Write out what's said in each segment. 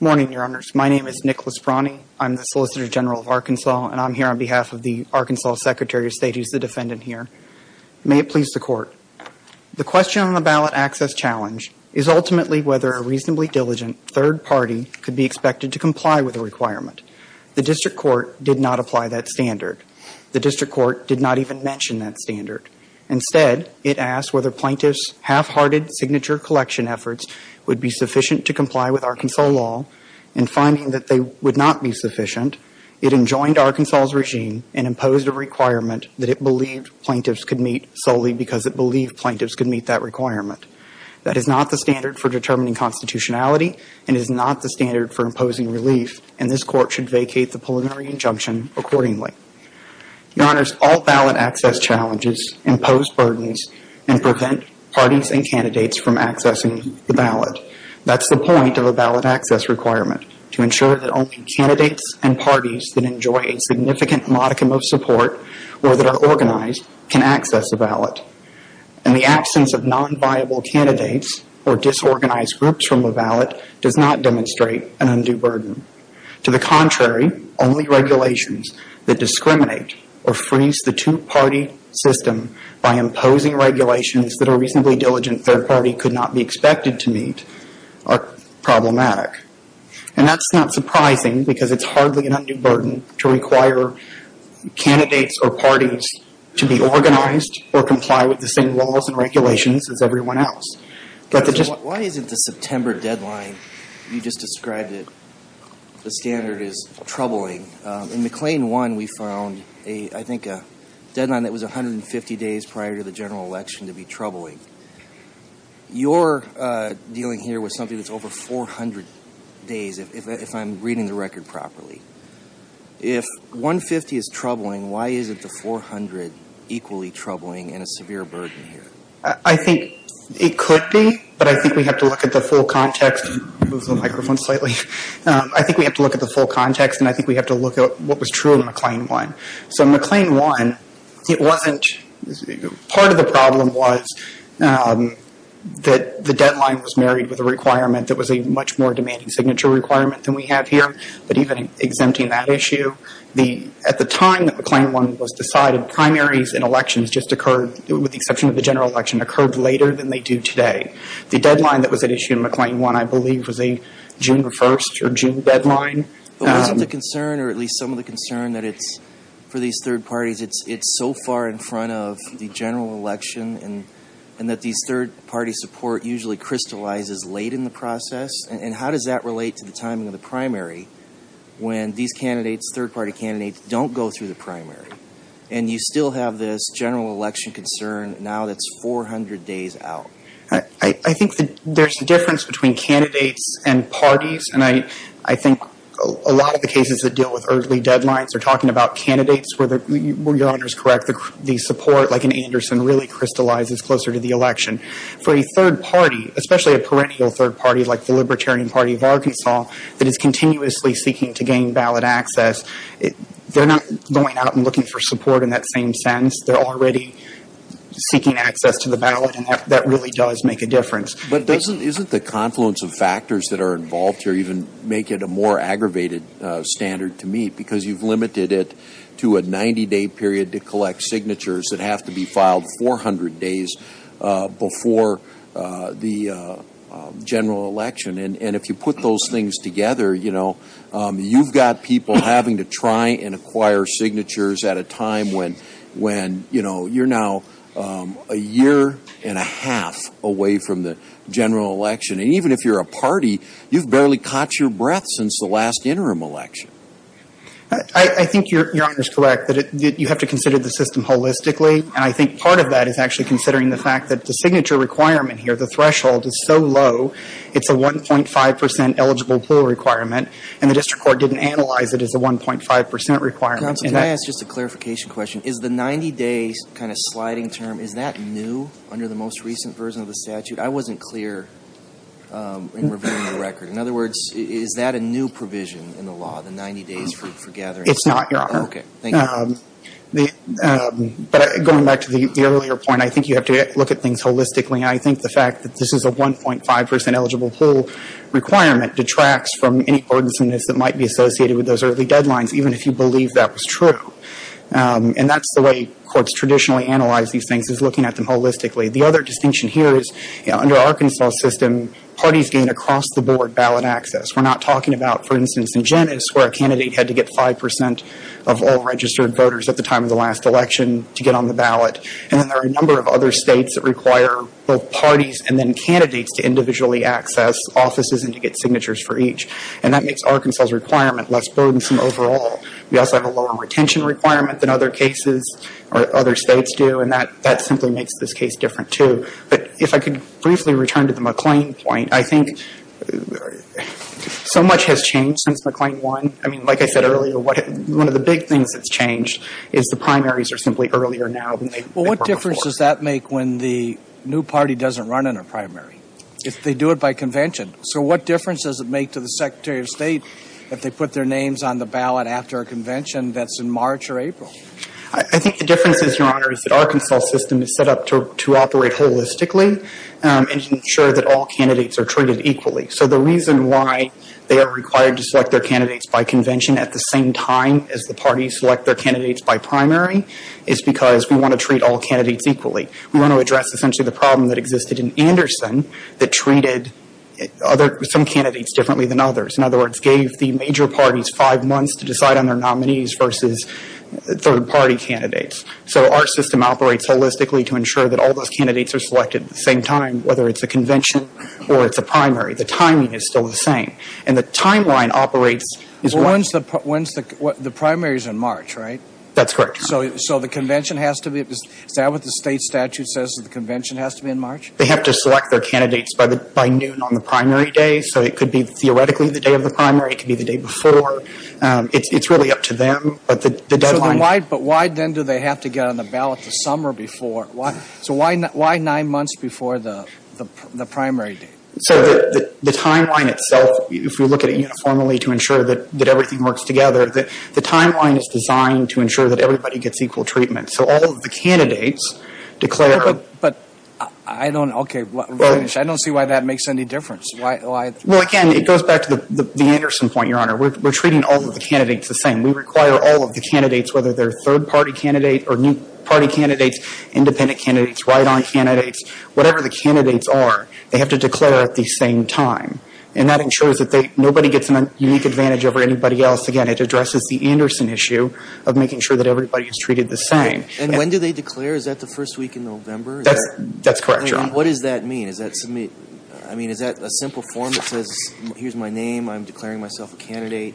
Morning, Your Honors. My name is Nicholas Brawney. I'm the Solicitor General of Arkansas and I'm here on behalf of the Arkansas Secretary of State who's the defendant here. May it challenge is ultimately whether a reasonably diligent third party could be expected to comply with a requirement. The District Court did not apply that standard. The District Court did not even mention that standard. Instead, it asked whether plaintiffs' half-hearted signature collection efforts would be sufficient to comply with Arkansas law. In finding that they would not be sufficient, it enjoined Arkansas' regime and imposed a requirement that it believed plaintiffs could meet solely because it believed plaintiffs could meet that requirement. That is not the standard for determining constitutionality and is not the standard for imposing relief and this Court should vacate the preliminary injunction accordingly. Your Honors, all ballot access challenges impose burdens and prevent parties and candidates from accessing the ballot. That's the point of a ballot access requirement, to ensure that only candidates and parties that enjoy a significant modicum of support or that are organized can access a ballot. The absence of non-viable candidates or disorganized groups from a ballot does not demonstrate an undue burden. To the contrary, only regulations that discriminate or freeze the two-party system by imposing regulations that a reasonably diligent third party could not be expected to meet are problematic. That's not surprising because it's hardly an undue burden to require candidates or parties to be organized or comply with the same laws and regulations as everyone else. Why isn't the September deadline you just described, the standard, troubling? In McLean 1, we found a deadline that was 150 days prior to the general election to be troubling. Your dealing here with something that's over 400 days, if I'm reading the record properly. If 150 is troubling, why isn't the 400 equally troubling and a severe burden here? I think it could be, but I think we have to look at the full context. I think we have to look at the full context and I think we have to look at what was true in McLean 1. So McLean 1, it wasn't, part of the problem was that the deadline was married with a requirement that was a much more demanding signature requirement than we have here. But even exempting that issue, at the time that McLean 1 was decided, primaries and elections just occurred, with the exception of the general election, occurred later than they do today. The deadline that was at issue in McLean 1, I believe, was a June 1st or June deadline. But wasn't the concern, or at least some of the concern, that it's, for these third parties, it's so far in front of the general election and that these third party support usually crystallizes late in the process? And how does that relate to the timing of the primary when these candidates, third party candidates, don't go through the primary? And you still have this general election concern now that's 400 days out. I think that there's a difference between candidates and parties. And I think a lot of the cases that deal with early deadlines are talking about candidates where, your Honor is correct, the support, like in Anderson, really crystallizes closer to the election. For a third party, especially a perennial third party like the Libertarian Party of Arkansas that is continuously seeking to gain ballot access, they're not going out and looking for support in that same sense. They're already seeking access to the ballot and that really does make a difference. But doesn't, isn't the confluence of factors that are involved here even make it a more aggravated standard to meet? Because you've limited it to a 90 day period to collect signatures that have to be filed 400 days before the general election. And if you put those things together, you've got people having to try and acquire signatures at a time when you're now a year and a half away from the general election. And even if you're a party, you've barely caught your breath since the last interim election. I think your Honor is correct that you have to consider the system holistically. And I think part of that is actually considering the fact that the signature requirement here, the threshold is so low, it's a 1.5% eligible pool requirement. And the District Court didn't analyze it as a 1.5% requirement. Counsel, can I ask just a clarification question? Is the 90 day kind of sliding term, is that new under the most recent version of the statute? I wasn't clear in reviewing the record. In other words, is that a new provision in the law, the 90 days for gathering signatures? It's not, Your Honor. Okay, thank you. But going back to the earlier point, I think you have to look at things holistically. And I think the fact that this is a 1.5% eligible pool requirement detracts from any ordinanceness that might be associated with those early deadlines, even if you believe that was true. And that's the way courts traditionally analyze these things, is looking at them holistically. The other distinction here is, under Arkansas' system, parties gain across the board ballot access. We're not talking about, for instance, in Genes where a candidate had to get 5% of all registered voters at the time of the last election to get on the ballot. And then there are a number of other states that require both parties and then candidates to individually access offices and to get signatures for each. And that makes Arkansas' requirement less burdensome overall. We also have a lower retention requirement than other cases or other states do. And that simply makes this case different, too. But if I could briefly return to the McLean point, I think so much has changed since McLean won. I mean, like I said earlier, one of the big things that's changed is the primaries are simply earlier now than they were before. Well, what difference does that make when the new party doesn't run in a primary? If they do it by convention. So what difference does it make to the Secretary of State if they put their names on the ballot after a convention that's in March or April? I think the difference is, Your Honor, is that Arkansas' system is set up to operate holistically and to ensure that all candidates are treated equally. So the reason why they are required to select their candidates by convention at the same time as the parties select their candidates by primary is because we want to treat all candidates equally. We want to address essentially the problem that existed in Anderson that treated some candidates differently than others. In other words, gave the major parties five months to decide on their nominees versus third-party candidates. So our system operates holistically to ensure that all those candidates are selected at the same time, whether it's a convention or it's a primary. The timing is still the same. And the timeline operates as well. Well, when's the primary? The primary is in March, right? That's correct, Your Honor. So the convention has to be – is that what the state statute says, that the convention has to be in March? They have to select their candidates by noon on the primary day. So it could be theoretically the day of the primary. It could be the day before. It's really up to them. But the deadline So why then do they have to get on the ballot the summer before? So why nine months before the primary date? So the timeline itself, if we look at it uniformly to ensure that everything works together, the timeline is designed to ensure that everybody gets equal treatment. So all of the candidates declare But I don't – okay, finish. I don't see why that makes any difference. Why – Well, again, it goes back to the Anderson point, Your Honor. We're treating all of the candidates the same. We require all of the candidates, whether they're third-party candidate or new-party candidates, independent candidates, write-on candidates, whatever the candidates are, they have to declare at the same time. And that ensures that nobody gets a unique advantage over anybody else. Again, it addresses the Anderson issue of making sure that everybody is treated the same. And when do they declare? Is that the first week in November? That's correct, Your Honor. What does that mean? I mean, is that a simple form that says, here's my name, I'm declaring myself a candidate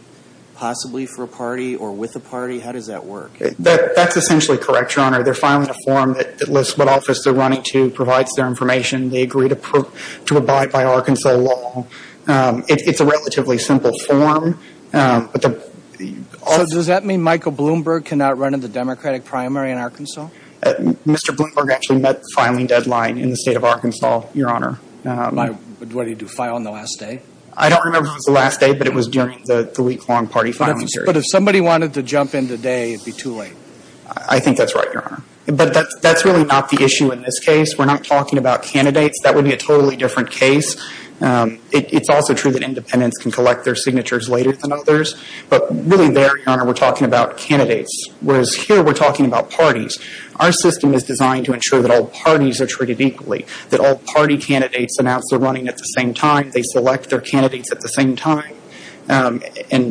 possibly for a party or with a party? How does that work? That's essentially correct, Your Honor. They're filing a form that lists what office they're running to, provides their information. They agree to abide by Arkansas law. It's a relatively simple form. But the... So does that mean Michael Bloomberg cannot run in the Democratic primary in Arkansas? Mr. Bloomberg actually met the filing deadline in the state of Arkansas, Your Honor. But what did he do, file on the last day? I don't remember if it was the last day, but it was during the week-long party filing series. But if somebody wanted to jump in today, it'd be too late. I think that's right, Your Honor. But that's really not the issue in this case. We're not talking about candidates. That would be a totally different case. It's also true that some states select their signatures later than others. But really there, Your Honor, we're talking about candidates. Whereas here, we're talking about parties. Our system is designed to ensure that all parties are treated equally. That all party candidates announce their running at the same time. They select their candidates at the same time. And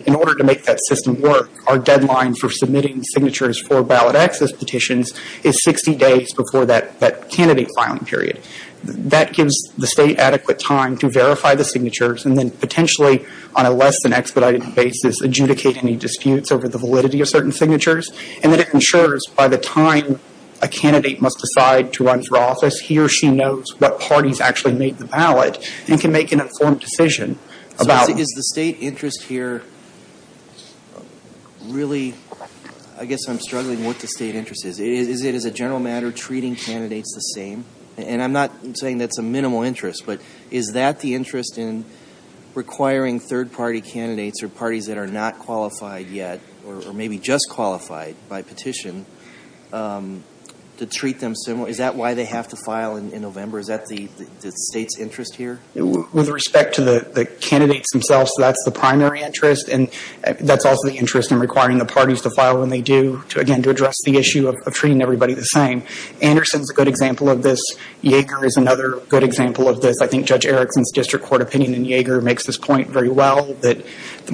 in order to make that system work, our deadline for submitting signatures for ballot access petitions is 60 days before that candidate filing period. That gives the state adequate time to verify the signatures and then potentially, on a less than expedited basis, adjudicate any disputes over the validity of certain signatures. And then it ensures by the time a candidate must decide to run for office, he or she knows what parties actually made the ballot and can make an informed decision about So is the state interest here really, I guess I'm struggling with what the state interest is. Is it, as a general matter, treating candidates the same? And I'm not saying that's a minimal interest, but is that the interest in requiring third party candidates or parties that are not qualified yet, or maybe just qualified by petition, to treat them similarly? Is that why they have to file in November? Is that the state's interest here? With respect to the candidates themselves, that's the primary interest. And that's also the interest in requiring the parties to file when they do, again, to address the issue of treating everybody the same. Anderson's a good example of this. Yeager is another good example of this. I think Judge Erickson's district court opinion in Yeager makes this point very well, that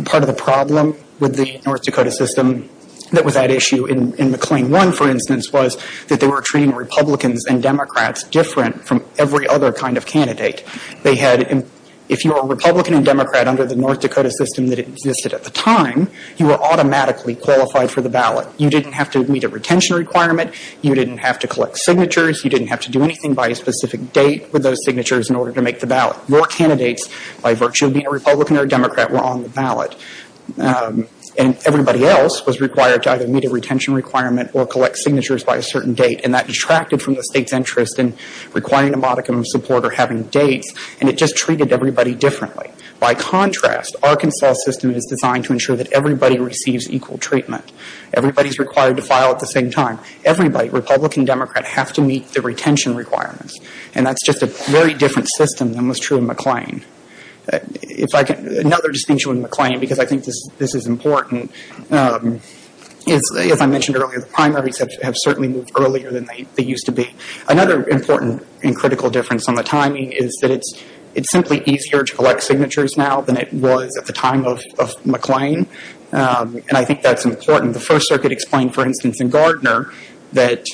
part of the problem with the North Dakota system that was at issue in McLean 1, for instance, was that they were treating Republicans and Democrats different from every other kind of candidate. They had, if you were a Republican and Democrat under the North Dakota system that existed at the time, you were automatically qualified for the ballot. You didn't have to meet a retention requirement. You didn't have to collect signatures. You didn't have to do anything by a specific date with those signatures in order to make the ballot. Your candidates, by virtue of being a Republican or a Democrat, were on the ballot. And everybody else was required to either meet a retention requirement or collect signatures by a certain date. And that detracted from the state's interest in requiring a modicum of support or having dates. And it just treated everybody differently. By contrast, Arkansas' system is designed to ensure that everybody receives equal treatment. Everybody's required to file at the same time. Everybody, Republican, Democrat, have to meet the retention requirements. And that's just a very different system than was true in McLean. Another distinction with McLean, because I think this is important, is, as I mentioned earlier, the primaries have certainly moved earlier than they used to be. Another important and critical difference on the timing is that it's simply easier to collect signatures now than it was at the time of McLean. And I think that's important. The First Circuit explained, for instance, in Gardner, that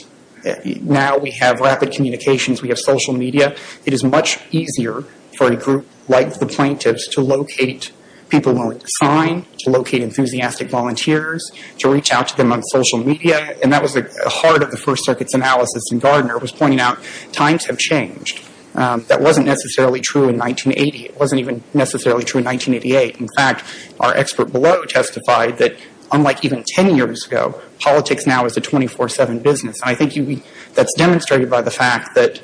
now we have rapid communications. We have social media. It is much easier for a group like the plaintiffs to locate people willing to sign, to locate enthusiastic volunteers, to reach out to them on social media. And that was the heart of the First Circuit's analysis in Gardner, was pointing out times have changed. That wasn't necessarily true in 1980. It wasn't even necessarily true in 1988. In fact, our expert below testified that, unlike even 10 years ago, politics now is a 24-7 business. I think that's demonstrated by the fact that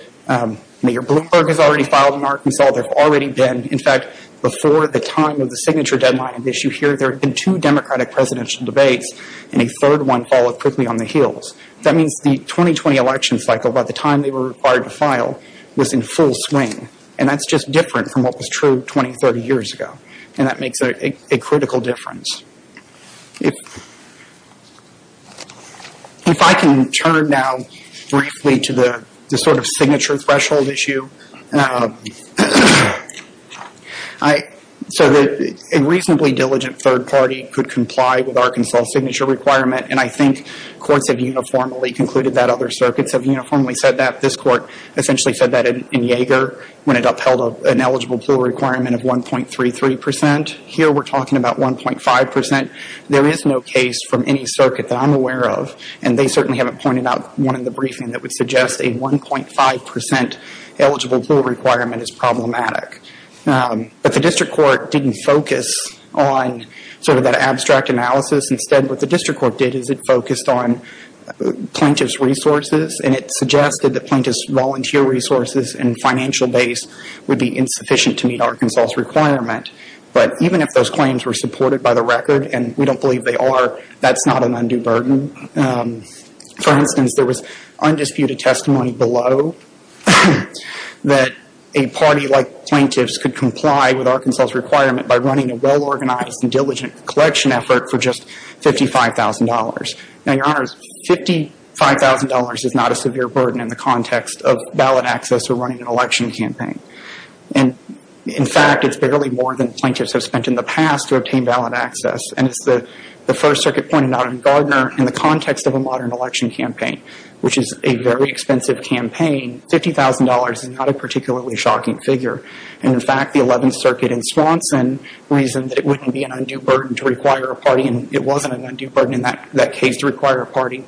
Mayor Bloomberg has already filed in Arkansas. There have already been, in fact, before the time of the signature deadline of issue here, there have been two Democratic presidential debates and a third one followed quickly on the heels. That means the 2020 election cycle, by the time they were required to file, was in full swing. And that's just different from what was true 20, 30 years ago. And that makes a critical difference. If I can turn now briefly to the sort of signature threshold issue. So a reasonably diligent third party could comply with Arkansas' signature requirement. And I think courts have uniformly concluded that. Other circuits have uniformly said that. This court essentially said that in Yeager, when it upheld an eligible pool requirement of 1.33 percent. Here we're talking about 1.5 percent. There is no case from any circuit that I'm aware of, and they certainly haven't pointed out one in the briefing that would suggest a 1.5 percent eligible pool requirement is problematic. But the District Court didn't focus on sort of that abstract analysis. Instead, what the District Court did is it focused on plaintiff's resources. And it suggested that plaintiff's volunteer resources and financial base would be insufficient to meet Arkansas' requirement. But even if those claims were supported by the record, and we don't believe they are, that's not an undue burden. For instance, there was undisputed testimony below that a party like plaintiffs could comply with Arkansas' requirement by running a well organized and diligent collection effort for just $55,000. Now, Your Honors, $55,000 is not a severe burden in the context of ballot access or running an election campaign. And in fact, it's barely more than plaintiffs have spent in the past to obtain ballot access. And as the First Circuit pointed out in Gardner, in the context of a modern election campaign, which is a very expensive campaign, $50,000 is not a particularly shocking figure. And in fact, the Eleventh Circuit in Swanson reasoned that it wouldn't be an undue burden to require a party, and it wasn't an undue burden in that case to require a party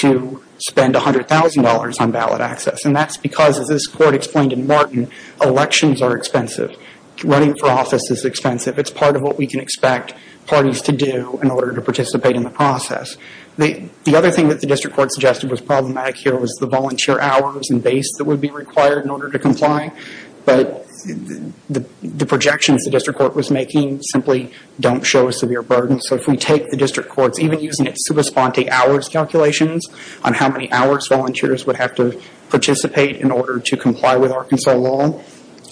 to spend $100,000 on ballot access. And that's because, as this Court explained in Martin, elections are expensive. Running for office is expensive. It's part of what we can expect parties to do in order to participate in the process. The other thing that the District Court suggested was problematic here was the volunteer hours and base that would be required in order to comply. But the projections the District Court was making simply don't show a severe burden. So if we take the District Court's even using its super sponte hours calculations on how many hours volunteers would have to participate in order to comply with Arkansas law,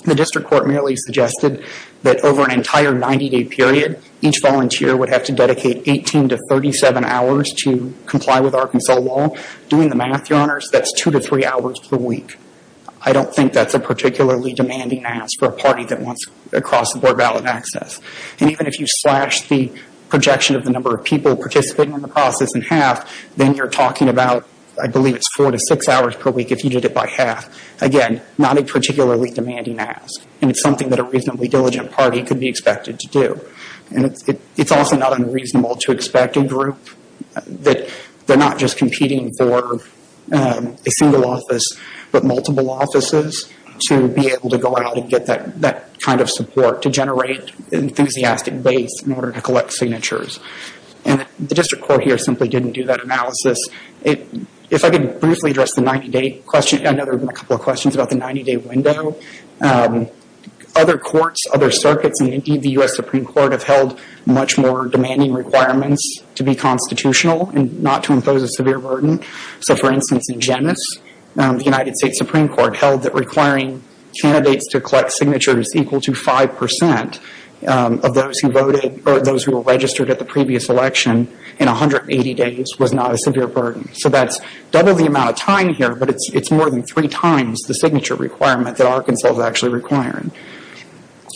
the District Court merely suggested that over an entire 90-day period, each volunteer would have to dedicate 18 to 37 hours to comply with Arkansas law. Doing the math, Your Honors, that's two to three hours per week. I don't think that's a particularly demanding ask for a party that wants to cross the board ballot access. And even if you slash the projection of the number of people participating in the process in half, then you're talking about, I believe it's four to six hours per week if you did it by half. Again, not a particularly demanding ask. And it's something that a reasonably diligent party could be expected to do. And it's also not unreasonable to expect a group that they're not just competing for a single office, but multiple offices to be able to go out and get that kind of support to generate an enthusiastic base in order to collect signatures. And the District Court here simply didn't do that analysis. If I could briefly address the 90-day question, I know there have been a couple of questions about the 90-day window. Other courts, other circuits, and indeed the U.S. Supreme Court have held much more demanding requirements to be constitutional and not to impose a severe burden. So for instance in Genes, the United States Supreme Court held that requiring candidates to collect signatures equal to 5% of those who voted or those who were registered at the previous election in 180 days was not a severe burden. So that's double the amount of time here, but it's more than three times the signature requirement that Arkansas is actually requiring.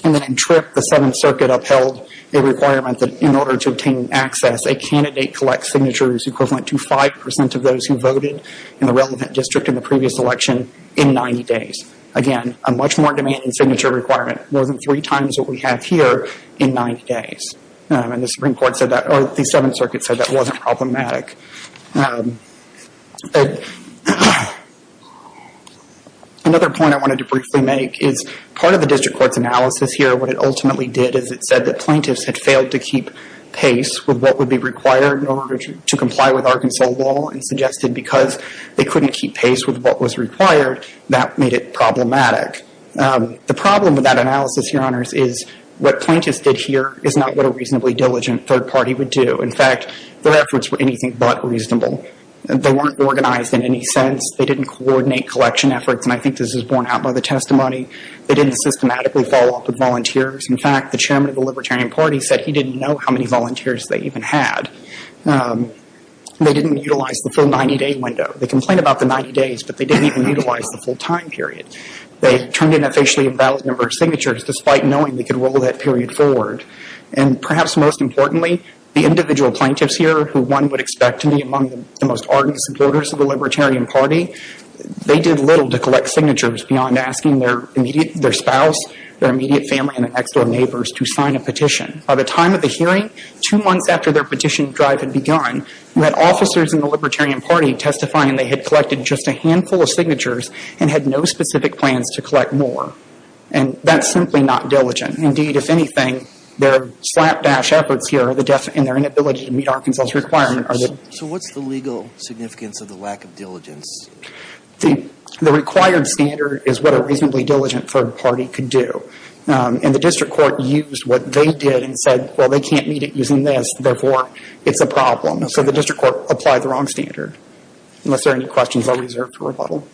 And then in Tripp, the Seventh Circuit upheld a requirement that in order to obtain access, a candidate collects signatures equivalent to 5% of those who voted in the relevant district in the previous election in 90 days. Again, a much more demanding signature requirement, more than three times what we have here in 90 days. And the Supreme Court said that, or the Seventh Circuit said that wasn't problematic. Another point I wanted to briefly make is part of the district court's analysis here, what it ultimately did is it said that plaintiffs had failed to keep pace with what would be required in order to comply with Arkansas law and suggested because they couldn't keep pace with what was required, that made it problematic. The problem with that analysis, Your Honors, is what plaintiffs did here is not what a reasonably diligent third party would do. In fact, their efforts were anything but reasonable. They weren't organized in any sense. They didn't coordinate collection efforts, and I think this is borne out by the testimony. They didn't systematically follow up with volunteers. In fact, the Chairman of the Libertarian Party said he didn't know how many volunteers they even had. They didn't utilize the full 90-day window. They complained about the 90 days, but they didn't even utilize the full time period. They turned in a facially invalid number of signatures despite knowing they could roll that period forward. Perhaps most importantly, the individual plaintiffs here who one would expect to be among the most ardent supporters of the Libertarian Party, they did little to collect signatures beyond asking their spouse, their immediate family, and their next door neighbors to sign a petition. By the time of the hearing, two months after their petition drive had begun, we had officers in the Libertarian Party testifying they had collected just a handful of signatures and had no specific plans to collect more. That's simply not diligent. Indeed, if anything, their slapdash efforts here and their inability to meet Arkansas' requirement are the... So what's the legal significance of the lack of diligence? The required standard is what a reasonably diligent third party could do. The District Court used what they did and said, well, they can't meet it using this, therefore it's a problem. So the District Court applied the wrong standard. Unless there are any questions I'll reserve for rebuttal.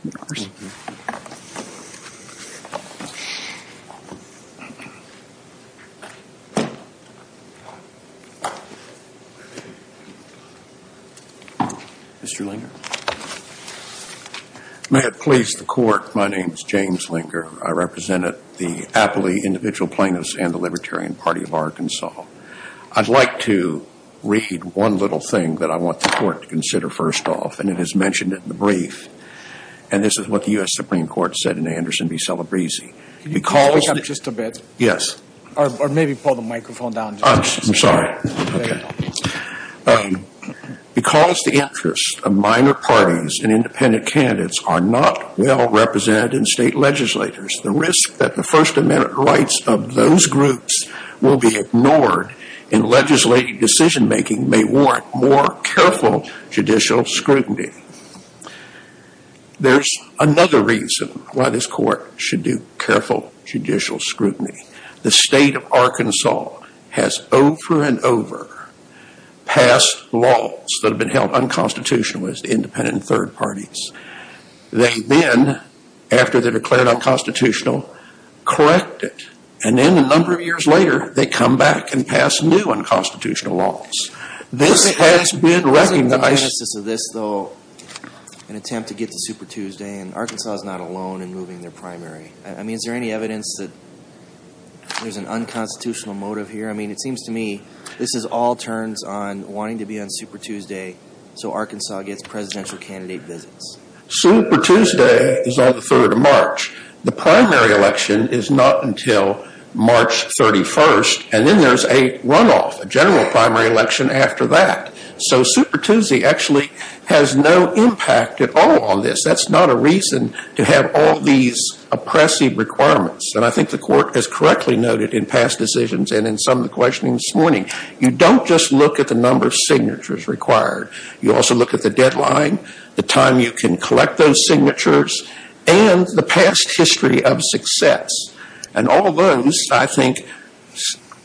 Mr. Linger. May it please the Court, my name is James Linger. I represent the Appley Individual Plaintiffs and the Libertarian Party of Arkansas. I'd like to read one little thing that I want the Court to consider first off, and it is mentioned in the brief. And this is what the U.S. Supreme Court said in the Anderson v. Celebrezzi. Can you hold it up just a bit? Yes. Or maybe pull the microphone down just a little bit. I'm sorry. Because the interests of minor parties and independent candidates are not well represented in state legislators, the risk that the First Amendment rights of those scrutiny. There's another reason why this Court should do careful judicial scrutiny. The state of Arkansas has over and over passed laws that have been held unconstitutional as independent third parties. They then, after they declared unconstitutional, correct it. And then a number of years later, they come back and pass new unconstitutional laws. This has been recognized. In the genesis of this, though, an attempt to get to Super Tuesday, and Arkansas is not alone in moving their primary. I mean, is there any evidence that there's an unconstitutional motive here? I mean, it seems to me this is all turns on wanting to be on Super Tuesday so Arkansas gets presidential candidate visits. Super Tuesday is on the 3rd of March. The primary election is not until March 31st. And then there's a runoff, a general primary election after that. So Super Tuesday actually has no impact at all on this. That's not a reason to have all these oppressive requirements. And I think the Court has correctly noted in past decisions and in some of the questioning this morning, you don't just look at the number of signatures required. You also look at the deadline, the time you can collect those signatures, and the past history of success. And all those, I think,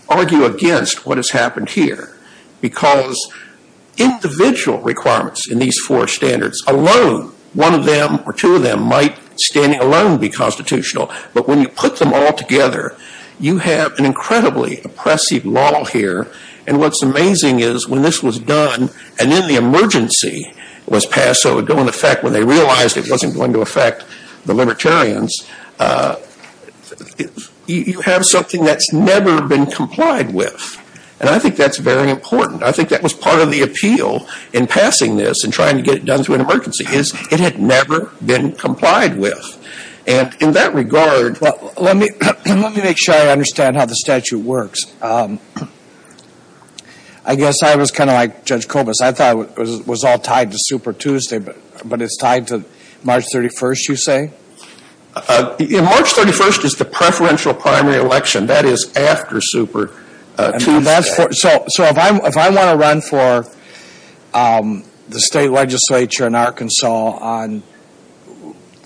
argue against what has happened here. Because individual requirements in these four standards alone, one of them or two of them might standing alone be constitutional. But when you put them all together, you have an incredibly oppressive law here. And what's amazing is when this was done and then the emergency was passed, so in effect when they realized it wasn't going to affect the Libertarians, you have something that's never been complied with. And I think that's very important. I think that was part of the appeal in passing this and trying to get it done through an emergency, is it had never been complied with. And in that regard... Well, let me make sure I understand how the statute works. I guess I was kind of like a super Tuesday, but it's tied to March 31st you say? March 31st is the preferential primary election. That is after super Tuesday. So if I want to run for the state legislature in Arkansas on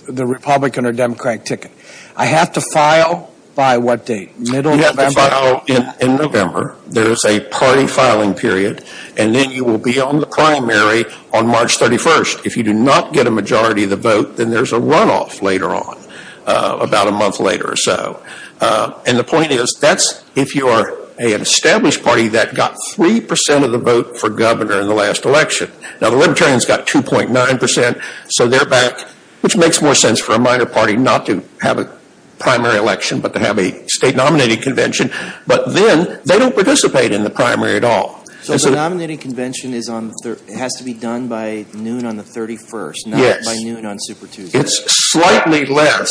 the Republican or Democratic ticket, I have to file by what date? You have to file in November. There is a party filing period. And then you will be on the election on March 31st. If you do not get a majority of the vote, then there is a runoff later on, about a month later or so. And the point is, that's if you are an established party that got 3% of the vote for governor in the last election. Now the Libertarians got 2.9%, so they're back, which makes more sense for a minor party not to have a primary election but to have a state nominated convention. But then they don't participate in the primary at all. So the nominating convention has to be done by noon on the 31st, not by noon on super Tuesday. It's slightly less.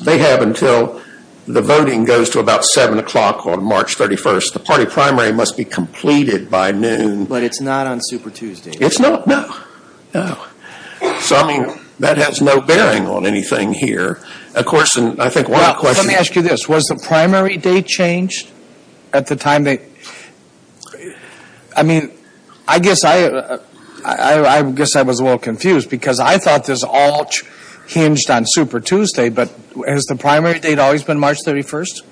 They have until the voting goes to about 7 o'clock on March 31st. The party primary must be completed by noon. But it's not on super Tuesday. It's not, no. So I mean, that has no bearing on anything here. Of course, and I think one of the questions... Was the primary date changed at the time? I mean, I guess I was a little confused because I thought this all hinged on super Tuesday, but has the primary date always been March 31st?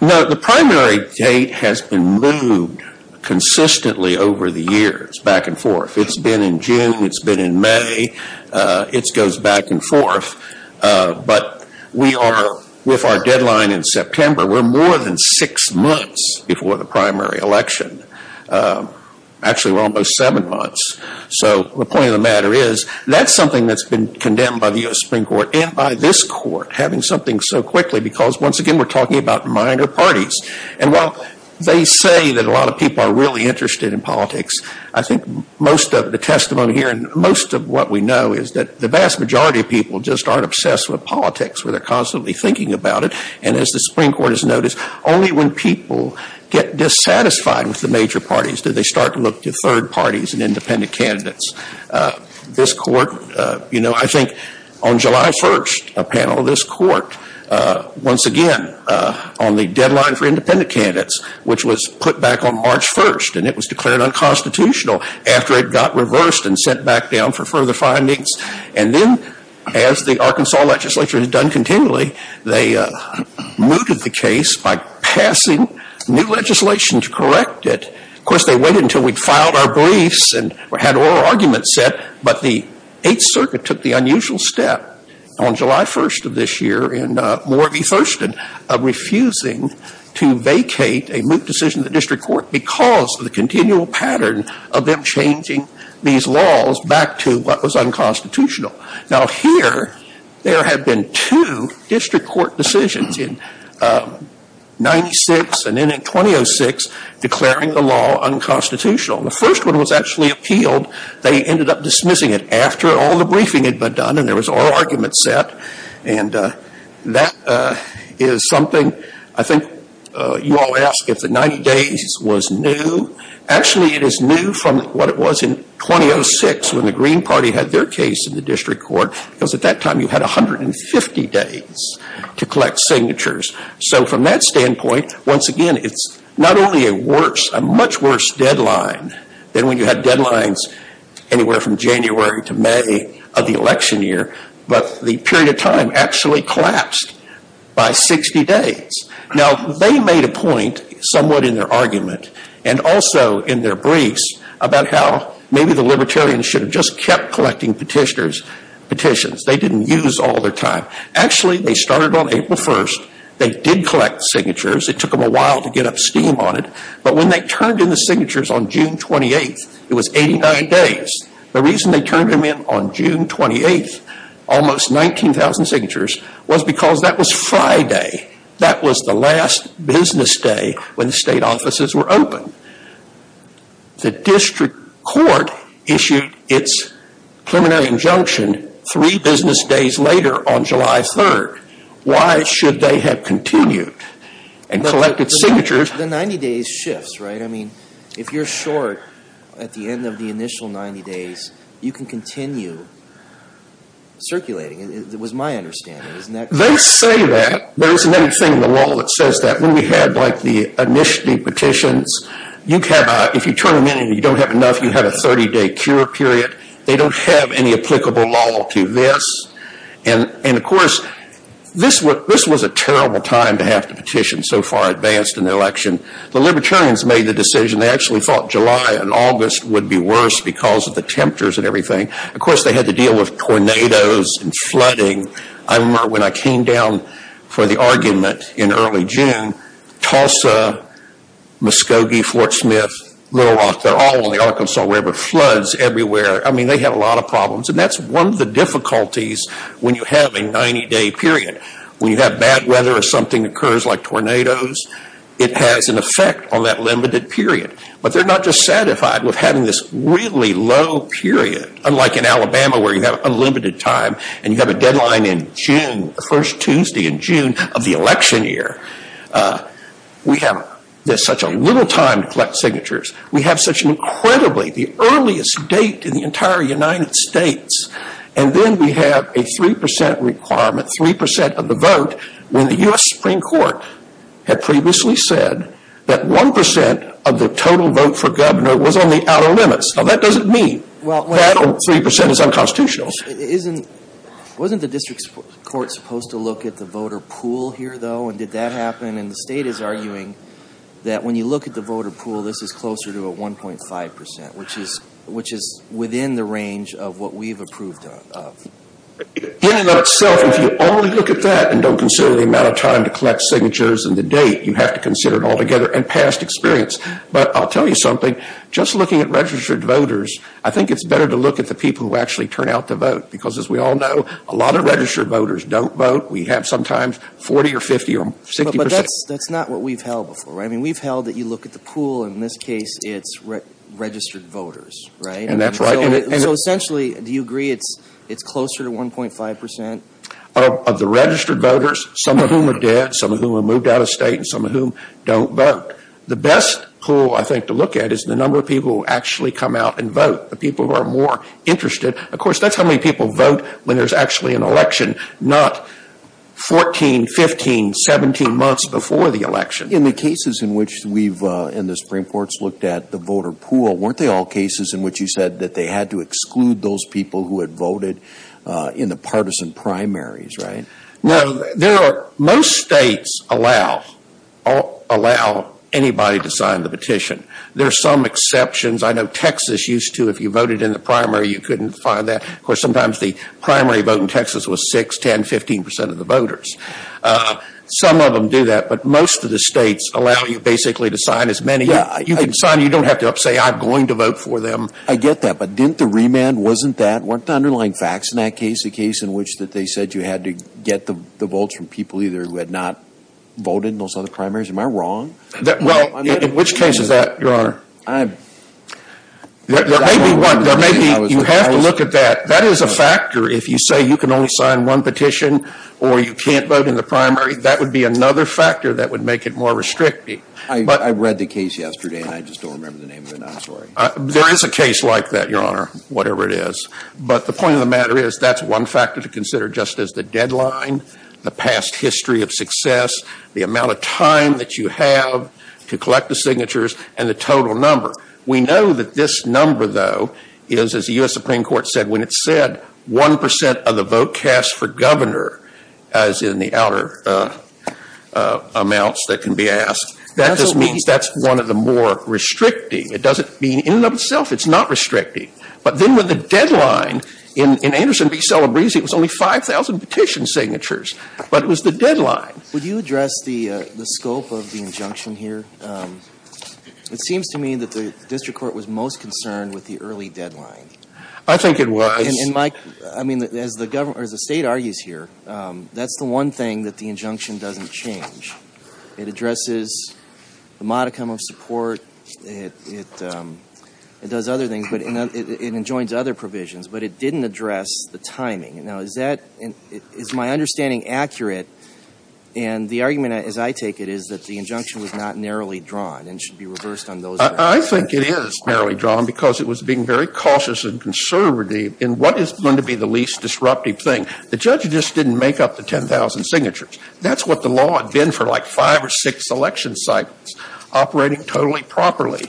No, the primary date has been moved consistently over the years, back and forth. It's been in June, it's been in May, it goes back and forth. But we are, with our deadline in September, we're more than six months before the primary election. Actually, we're almost seven months. So the point of the matter is, that's something that's been condemned by the U.S. Supreme Court and by this court, having something so quickly because, once again, we're talking about minor parties. And while they say that a lot of people are really interested in politics, I think most of the testimony here and most of what we know is that the vast majority of people just aren't obsessed with politics, where they're constantly thinking about it. And as the Supreme Court has noticed, only when people get dissatisfied with the major parties do they start to look to third parties and independent candidates. This court, you know, I think on July 1st, a panel of this court, once again, on the deadline for independent candidates, which was put back on March 1st, and it was declared unconstitutional after it got reversed and sent back down for further findings. And then, as the Arkansas legislature has done continually, they mooted the case by passing new legislation to correct it. Of course, they waited until we'd filed our briefs and had oral arguments set, but the Eighth Circuit took the unusual step on July 1st of this year in Moore v. Thurston of refusing to vacate a moot decision in the district court because of the continual pattern of them changing these laws back to what was unconstitutional. Now, here, there have been two district court decisions in 96 and then in 2006, declaring the law unconstitutional. The first one was actually appealed. They ended up dismissing it after all the briefing had been done and there was oral argument set. And that is something I think you all ask if the 90 days was new. Actually, it is new from what it was in 2006 when the Green Party had their case in the district court because at that time you had 150 days to collect signatures. So, from that standpoint, once again, it's not only a worse, a much worse deadline than when you had deadlines anywhere from January to May of the election year, but the period of time actually collapsed by 60 days. Now, they made a point somewhat in their argument and also in their briefs about how maybe the Libertarians should have just kept collecting petitions. They didn't use all their time. Actually, they started on April 1st. They did collect signatures. It took them a while to get up steam on it. But when they turned in the signatures on June 28th, it was 89 days. The reason they turned them in on June 28th, almost 19,000 signatures, was because that was Friday. That was the last business day when the state offices were open. The district court issued its preliminary injunction three business days later on July 3rd. Why should they have continued and collected signatures? The 90 days shifts, right? I mean, if you're short at the end of the initial 90 days, you can continue circulating. It was my understanding, isn't that correct? They say that. There is another thing in the law that says that. When we had like the initiating petitions, if you turn them in and you don't have enough, you have a 30-day cure period. They don't have any applicable law to this. And of course, this was a terrible time to have to petition so far advanced in the election. The Libertarians made the decision. They actually thought July and August would be worse because of the temperatures and everything. Of course, they had to deal with tornadoes and flooding. I remember when I came down for the argument in early June, Tulsa, Muskogee, Fort Smith, Little Rock, they're all on the Arkansas River. Floods everywhere. I mean, they have a lot of problems. And that's one of the difficulties when you have a 90-day period. When you have bad weather or something occurs like tornadoes, it has an effect on that limited period. But they're not just like in Alabama where you have unlimited time and you have a deadline in June, the first Tuesday in June of the election year. We have such a little time to collect signatures. We have such an incredibly, the earliest date in the entire United States. And then we have a 3% requirement, 3% of the vote when the U.S. Supreme Court had previously said that 1% of the total vote for governor was on the outer limits. Now, that doesn't mean that 3% is unconstitutional. Isn't, wasn't the district court supposed to look at the voter pool here, though, and did that happen? And the state is arguing that when you look at the voter pool, this is closer to a 1.5%, which is within the range of what we've approved of. In and of itself, if you only look at that and don't consider the amount of time to collect But I'll tell you something, just looking at registered voters, I think it's better to look at the people who actually turn out to vote. Because as we all know, a lot of registered voters don't vote. We have sometimes 40 or 50 or 60%. But that's, that's not what we've held before. I mean, we've held that you look at the pool. In this case, it's registered voters, right? And that's right. And so essentially, do you agree it's, it's closer to 1.5%? Of the registered voters, some of whom are dead, some of whom have moved out of state, and some of whom don't vote. The best pool, I think, to look at is the number of people who actually come out and vote, the people who are more interested. Of course, that's how many people vote when there's actually an election, not 14, 15, 17 months before the election. In the cases in which we've, in the Supreme Court's looked at the voter pool, weren't they all cases in which you said that they had to exclude those people who had voted in the partisan primaries, right? No, there are, most states allow, allow anybody to sign the petition. There are some exceptions. I know Texas used to, if you voted in the primary, you couldn't find that. Of course, sometimes the primary vote in Texas was 6, 10, 15% of the voters. Some of them do that, but most of the states allow you basically to sign as many. You can sign, you don't have to say I'm going to vote for them. I get that, but didn't the remand, wasn't that, weren't the underlying facts in that case a case in which they said you had to get the votes from people either who had not voted in those other primaries? Am I wrong? Well, in which case is that, Your Honor? I'm... There may be one, there may be, you have to look at that. That is a factor. If you say you can only sign one petition or you can't vote in the primary, that would be another factor that would make it more restricting. I read the case yesterday and I just don't remember the name of it now, I'm sorry. There is a case like that, Your Honor, whatever it is. But the point of the matter is that's one factor to consider just as the deadline, the past history of success, the amount of time that you have to collect the signatures and the total number. We know that this number, though, is, as the U.S. Supreme Court said, when it said 1% of the vote cast for governor, as in the outer amounts that can be asked, that just means that's one of the more restricting. It doesn't mean in and of itself it's not restricting. But then with the deadline, in Anderson v. Celebrezzi, it was only 5,000 petition signatures, but it was the deadline. Would you address the scope of the injunction here? It seems to me that the district court was most concerned with the early deadline. I think it was. And, Mike, I mean, as the State argues here, that's the one thing that the injunction doesn't change. It addresses the modicum of support, it does other things. It enjoins other provisions. But it didn't address the timing. Now, is that my understanding accurate? And the argument, as I take it, is that the injunction was not narrowly drawn and should be reversed on those matters. I think it is narrowly drawn because it was being very cautious and conservative in what is going to be the least disruptive thing. The judge just didn't make up the 10,000 signatures. That's what the law had been for like five or six election cycles, operating totally properly.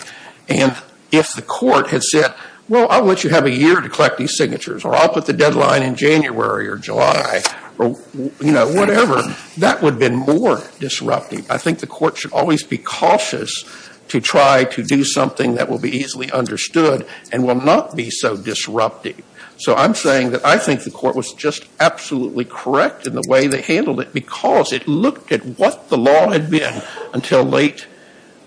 And if the court had said, well, I want you to have a year to collect these signatures or I'll put the deadline in January or July or, you know, whatever, that would have been more disruptive. I think the court should always be cautious to try to do something that will be easily understood and will not be so disruptive. So I'm saying that I think the court was just absolutely correct in the way they handled it because it looked at what the law had been until late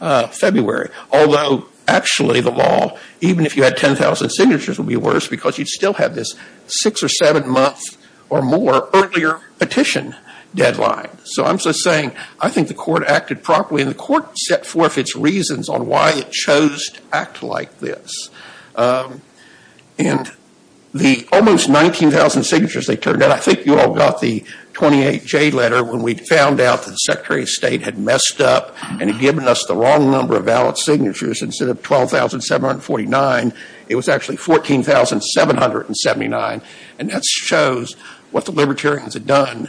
February. Although, actually, the law, even if you had 10,000 signatures, would be worse because you'd still have this six or seven month or more earlier petition deadline. So I'm just saying I think the court acted properly and the court set forth its reasons on why it chose to act like this. And the almost 19,000 signatures they turned out, I think you all got the 28J letter when we found out that the Secretary of State had messed up and had given us the wrong number of valid signatures. Instead of 12,749, it was actually 14,779. And that shows what the libertarians had done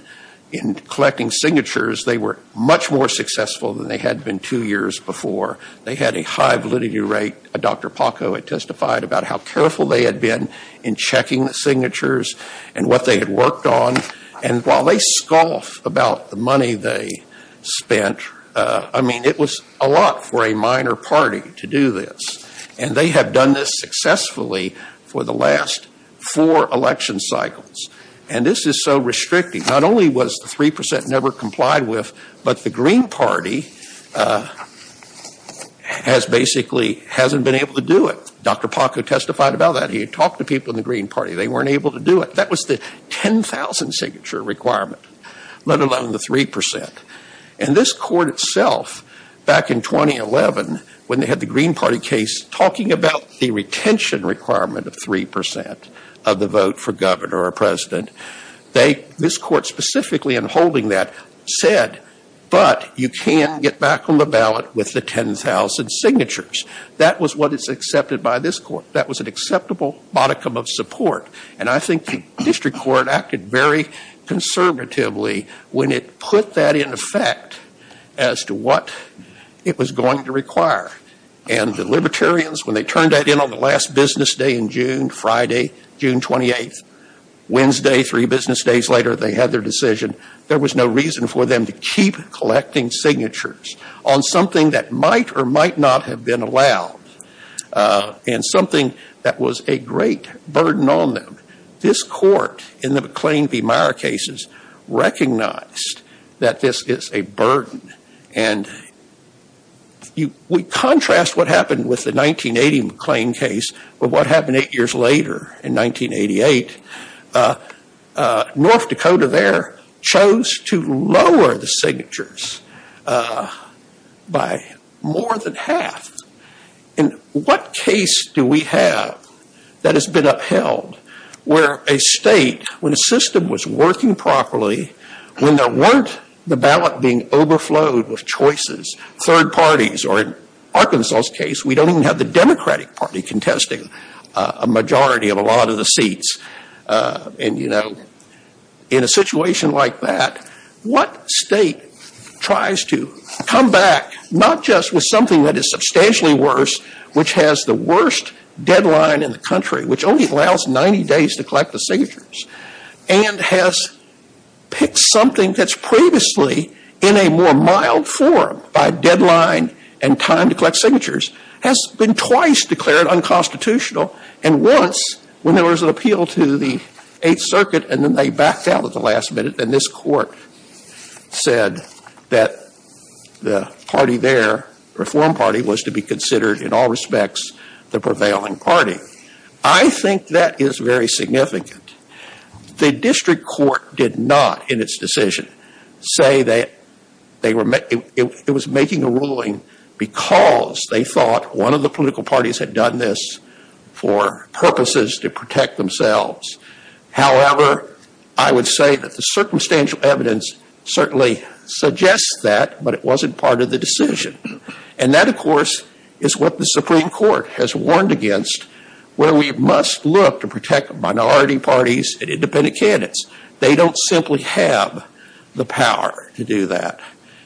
in collecting signatures. They were much more successful than they had been two years before. They had a high validity rate. Dr. Paco had testified about how careful they had been in checking the signatures and what they had worked on. And while they scoff about the money they spent, I mean, it was a lot for a minor party to do this. And they have done this successfully for the last four election cycles. And this is so restricting. Not only was the 3% never complied with, but the Green Party has basically hasn't been able to do it. Dr. Paco testified about that. He had talked to people in the Green Party. They weren't able to do it. That was the 10,000 signature requirement, let alone the 3%. And this court itself, back in 2011, when they had the Green Party case, talking about the retention requirement of 3% of the vote for governor or president, this court specifically in holding that said, but you can get back on the ballot with the 10,000 signatures. That was what is accepted by this court. That was an acceptable modicum of support. And I think the district court acted very conservatively when it put that in effect as to what it was going to require. And the Libertarians, when they turned that in on the last business day in June, Friday, June 28th, Wednesday, three business days later, they had their decision. There was no reason for them to keep collecting signatures on something that might or might not have been allowed and something that was a great burden on them. This court in the McLean v. Meyer cases recognized that this is a burden. And we contrast what happened with the 1980 McLean case with what happened eight years later in 1988. North Dakota there chose to lower the signatures by more than half. In what case do we have that has been upheld where a state, when a system was working properly, when there weren't the ballot being overflowed with choices, third parties, or in Arkansas' case, we don't even have the Democratic Party contesting a majority of a lot of the seats. And, you know, in a situation like that, what state tries to come back, not just with something that is substantially worse, which has the worst deadline in the country, which only allows 90 days to collect the signatures, and has picked something that's previously in a more mild form by deadline and time to collect signatures, has been twice declared unconstitutional. And once, when there was an appeal to the Eighth Circuit, and then they was to be considered, in all respects, the prevailing party. I think that is very significant. The district court did not, in its decision, say that it was making a ruling because they thought one of the political parties had done this for purposes to protect themselves. However, I would say that the circumstantial evidence certainly suggests that, but it wasn't part of the decision. And that, of course, is what the Supreme Court has warned against, where we must look to protect minority parties and independent candidates. They don't simply have the power to do that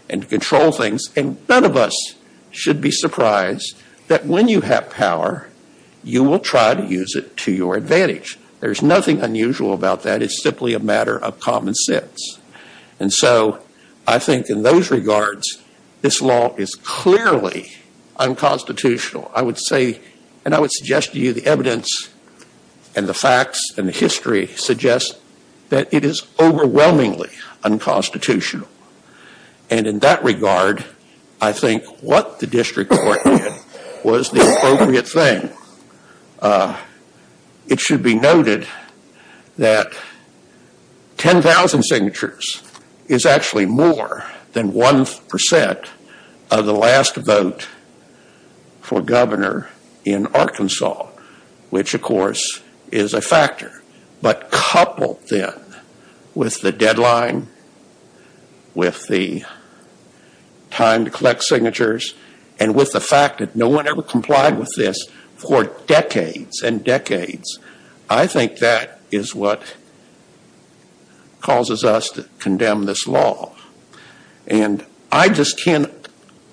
and control things. And none of us should be surprised that when you have power, you will try to use it to your advantage. There's nothing unusual about that. It's simply a matter of common sense. And so, I think in those regards, this law is clearly unconstitutional. I would say, and I would suggest to you, the evidence and the facts and the history suggest that it is overwhelmingly unconstitutional. And in that regard, I think what the district court did was the appropriate thing. It should be noted that 10,000 signatures is actually more than 1% of the last vote for governor in Arkansas, which, of course, is a factor. But coupled then with the deadline, with the time to collect signatures, and with the fact that no one ever complied with this for decades and decades, I think that is what causes us to condemn this law. And I just can't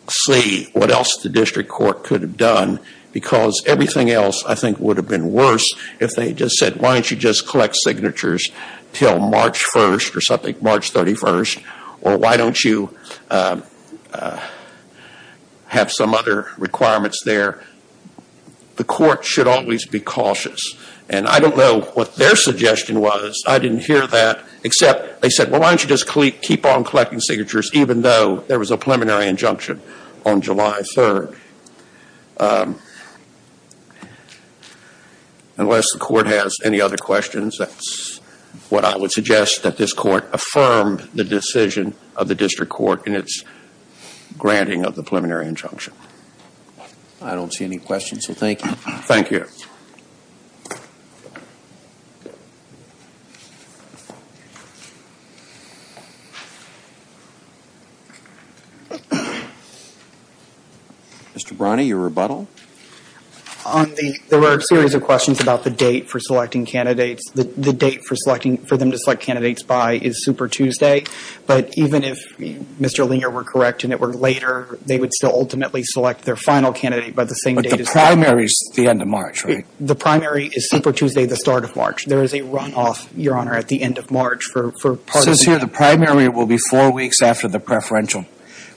see what else the district court could have done because everything else, I think, would have been worse if they just said, why don't you just collect signatures until March 1st or something, March 31st, or why don't you just keep on collecting signatures, even though there was a preliminary injunction on July 3rd. Unless the court has any other questions, that's what I would suggest, that this court affirm the decision of the district court in its granting of the preliminary injunction. I don't see any questions, so thank you. Thank you. Mr. Brani, your rebuttal? There were a series of questions about the date for selecting candidates. The date for them to select candidates by is Super Tuesday. But even if Mr. Linger were correct and it were later, they would still ultimately select their final candidate by the same date. But the primary is the end of March, right? The primary is Super Tuesday, the start of March. There is a runoff, Your Honor, at the end of March. It says here the primary will be four weeks after the preferential.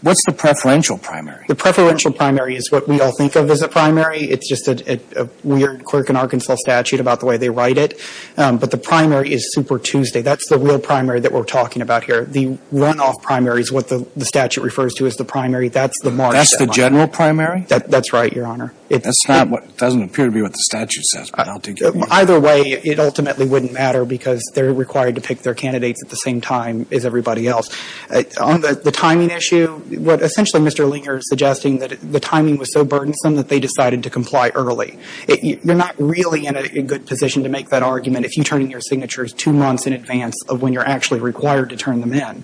What's the preferential primary? The preferential primary is what we all think of as a primary. It's just a weird clerk in Arkansas statute about the way they write it. But the primary is Super Tuesday. That's the real primary that we're talking about here. The runoff primary is what the statute refers to as the primary. That's the March deadline. That's the general primary? That's right, Your Honor. That doesn't appear to be what the statute says, but I don't think it is. Either way, it ultimately wouldn't matter because they're required to pick their candidates at the same time as everybody else. On the timing issue, what essentially Mr. Linger is suggesting, that the timing was so burdensome that they decided to comply early. You're not really in a good position to make that argument if you turn in your signatures two months in advance of when you're actually required to turn them in.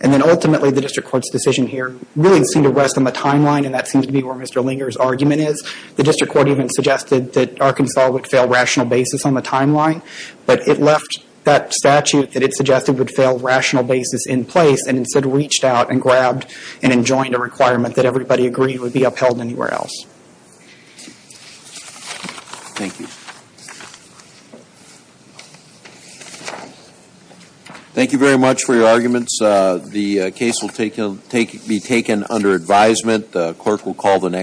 And then ultimately, the district court's decision here really seemed to rest on the timeline and that seems to be where Mr. Linger's argument is. The district court even suggested that Arkansas would fail rational basis on the timeline, but it left that statute that it suggested would fail rational basis in place and instead reached out and grabbed and enjoined a requirement that everybody agreed would be upheld anywhere else. Thank you. Thank you very much for your arguments. The case will be taken under advisement. The court will call the next.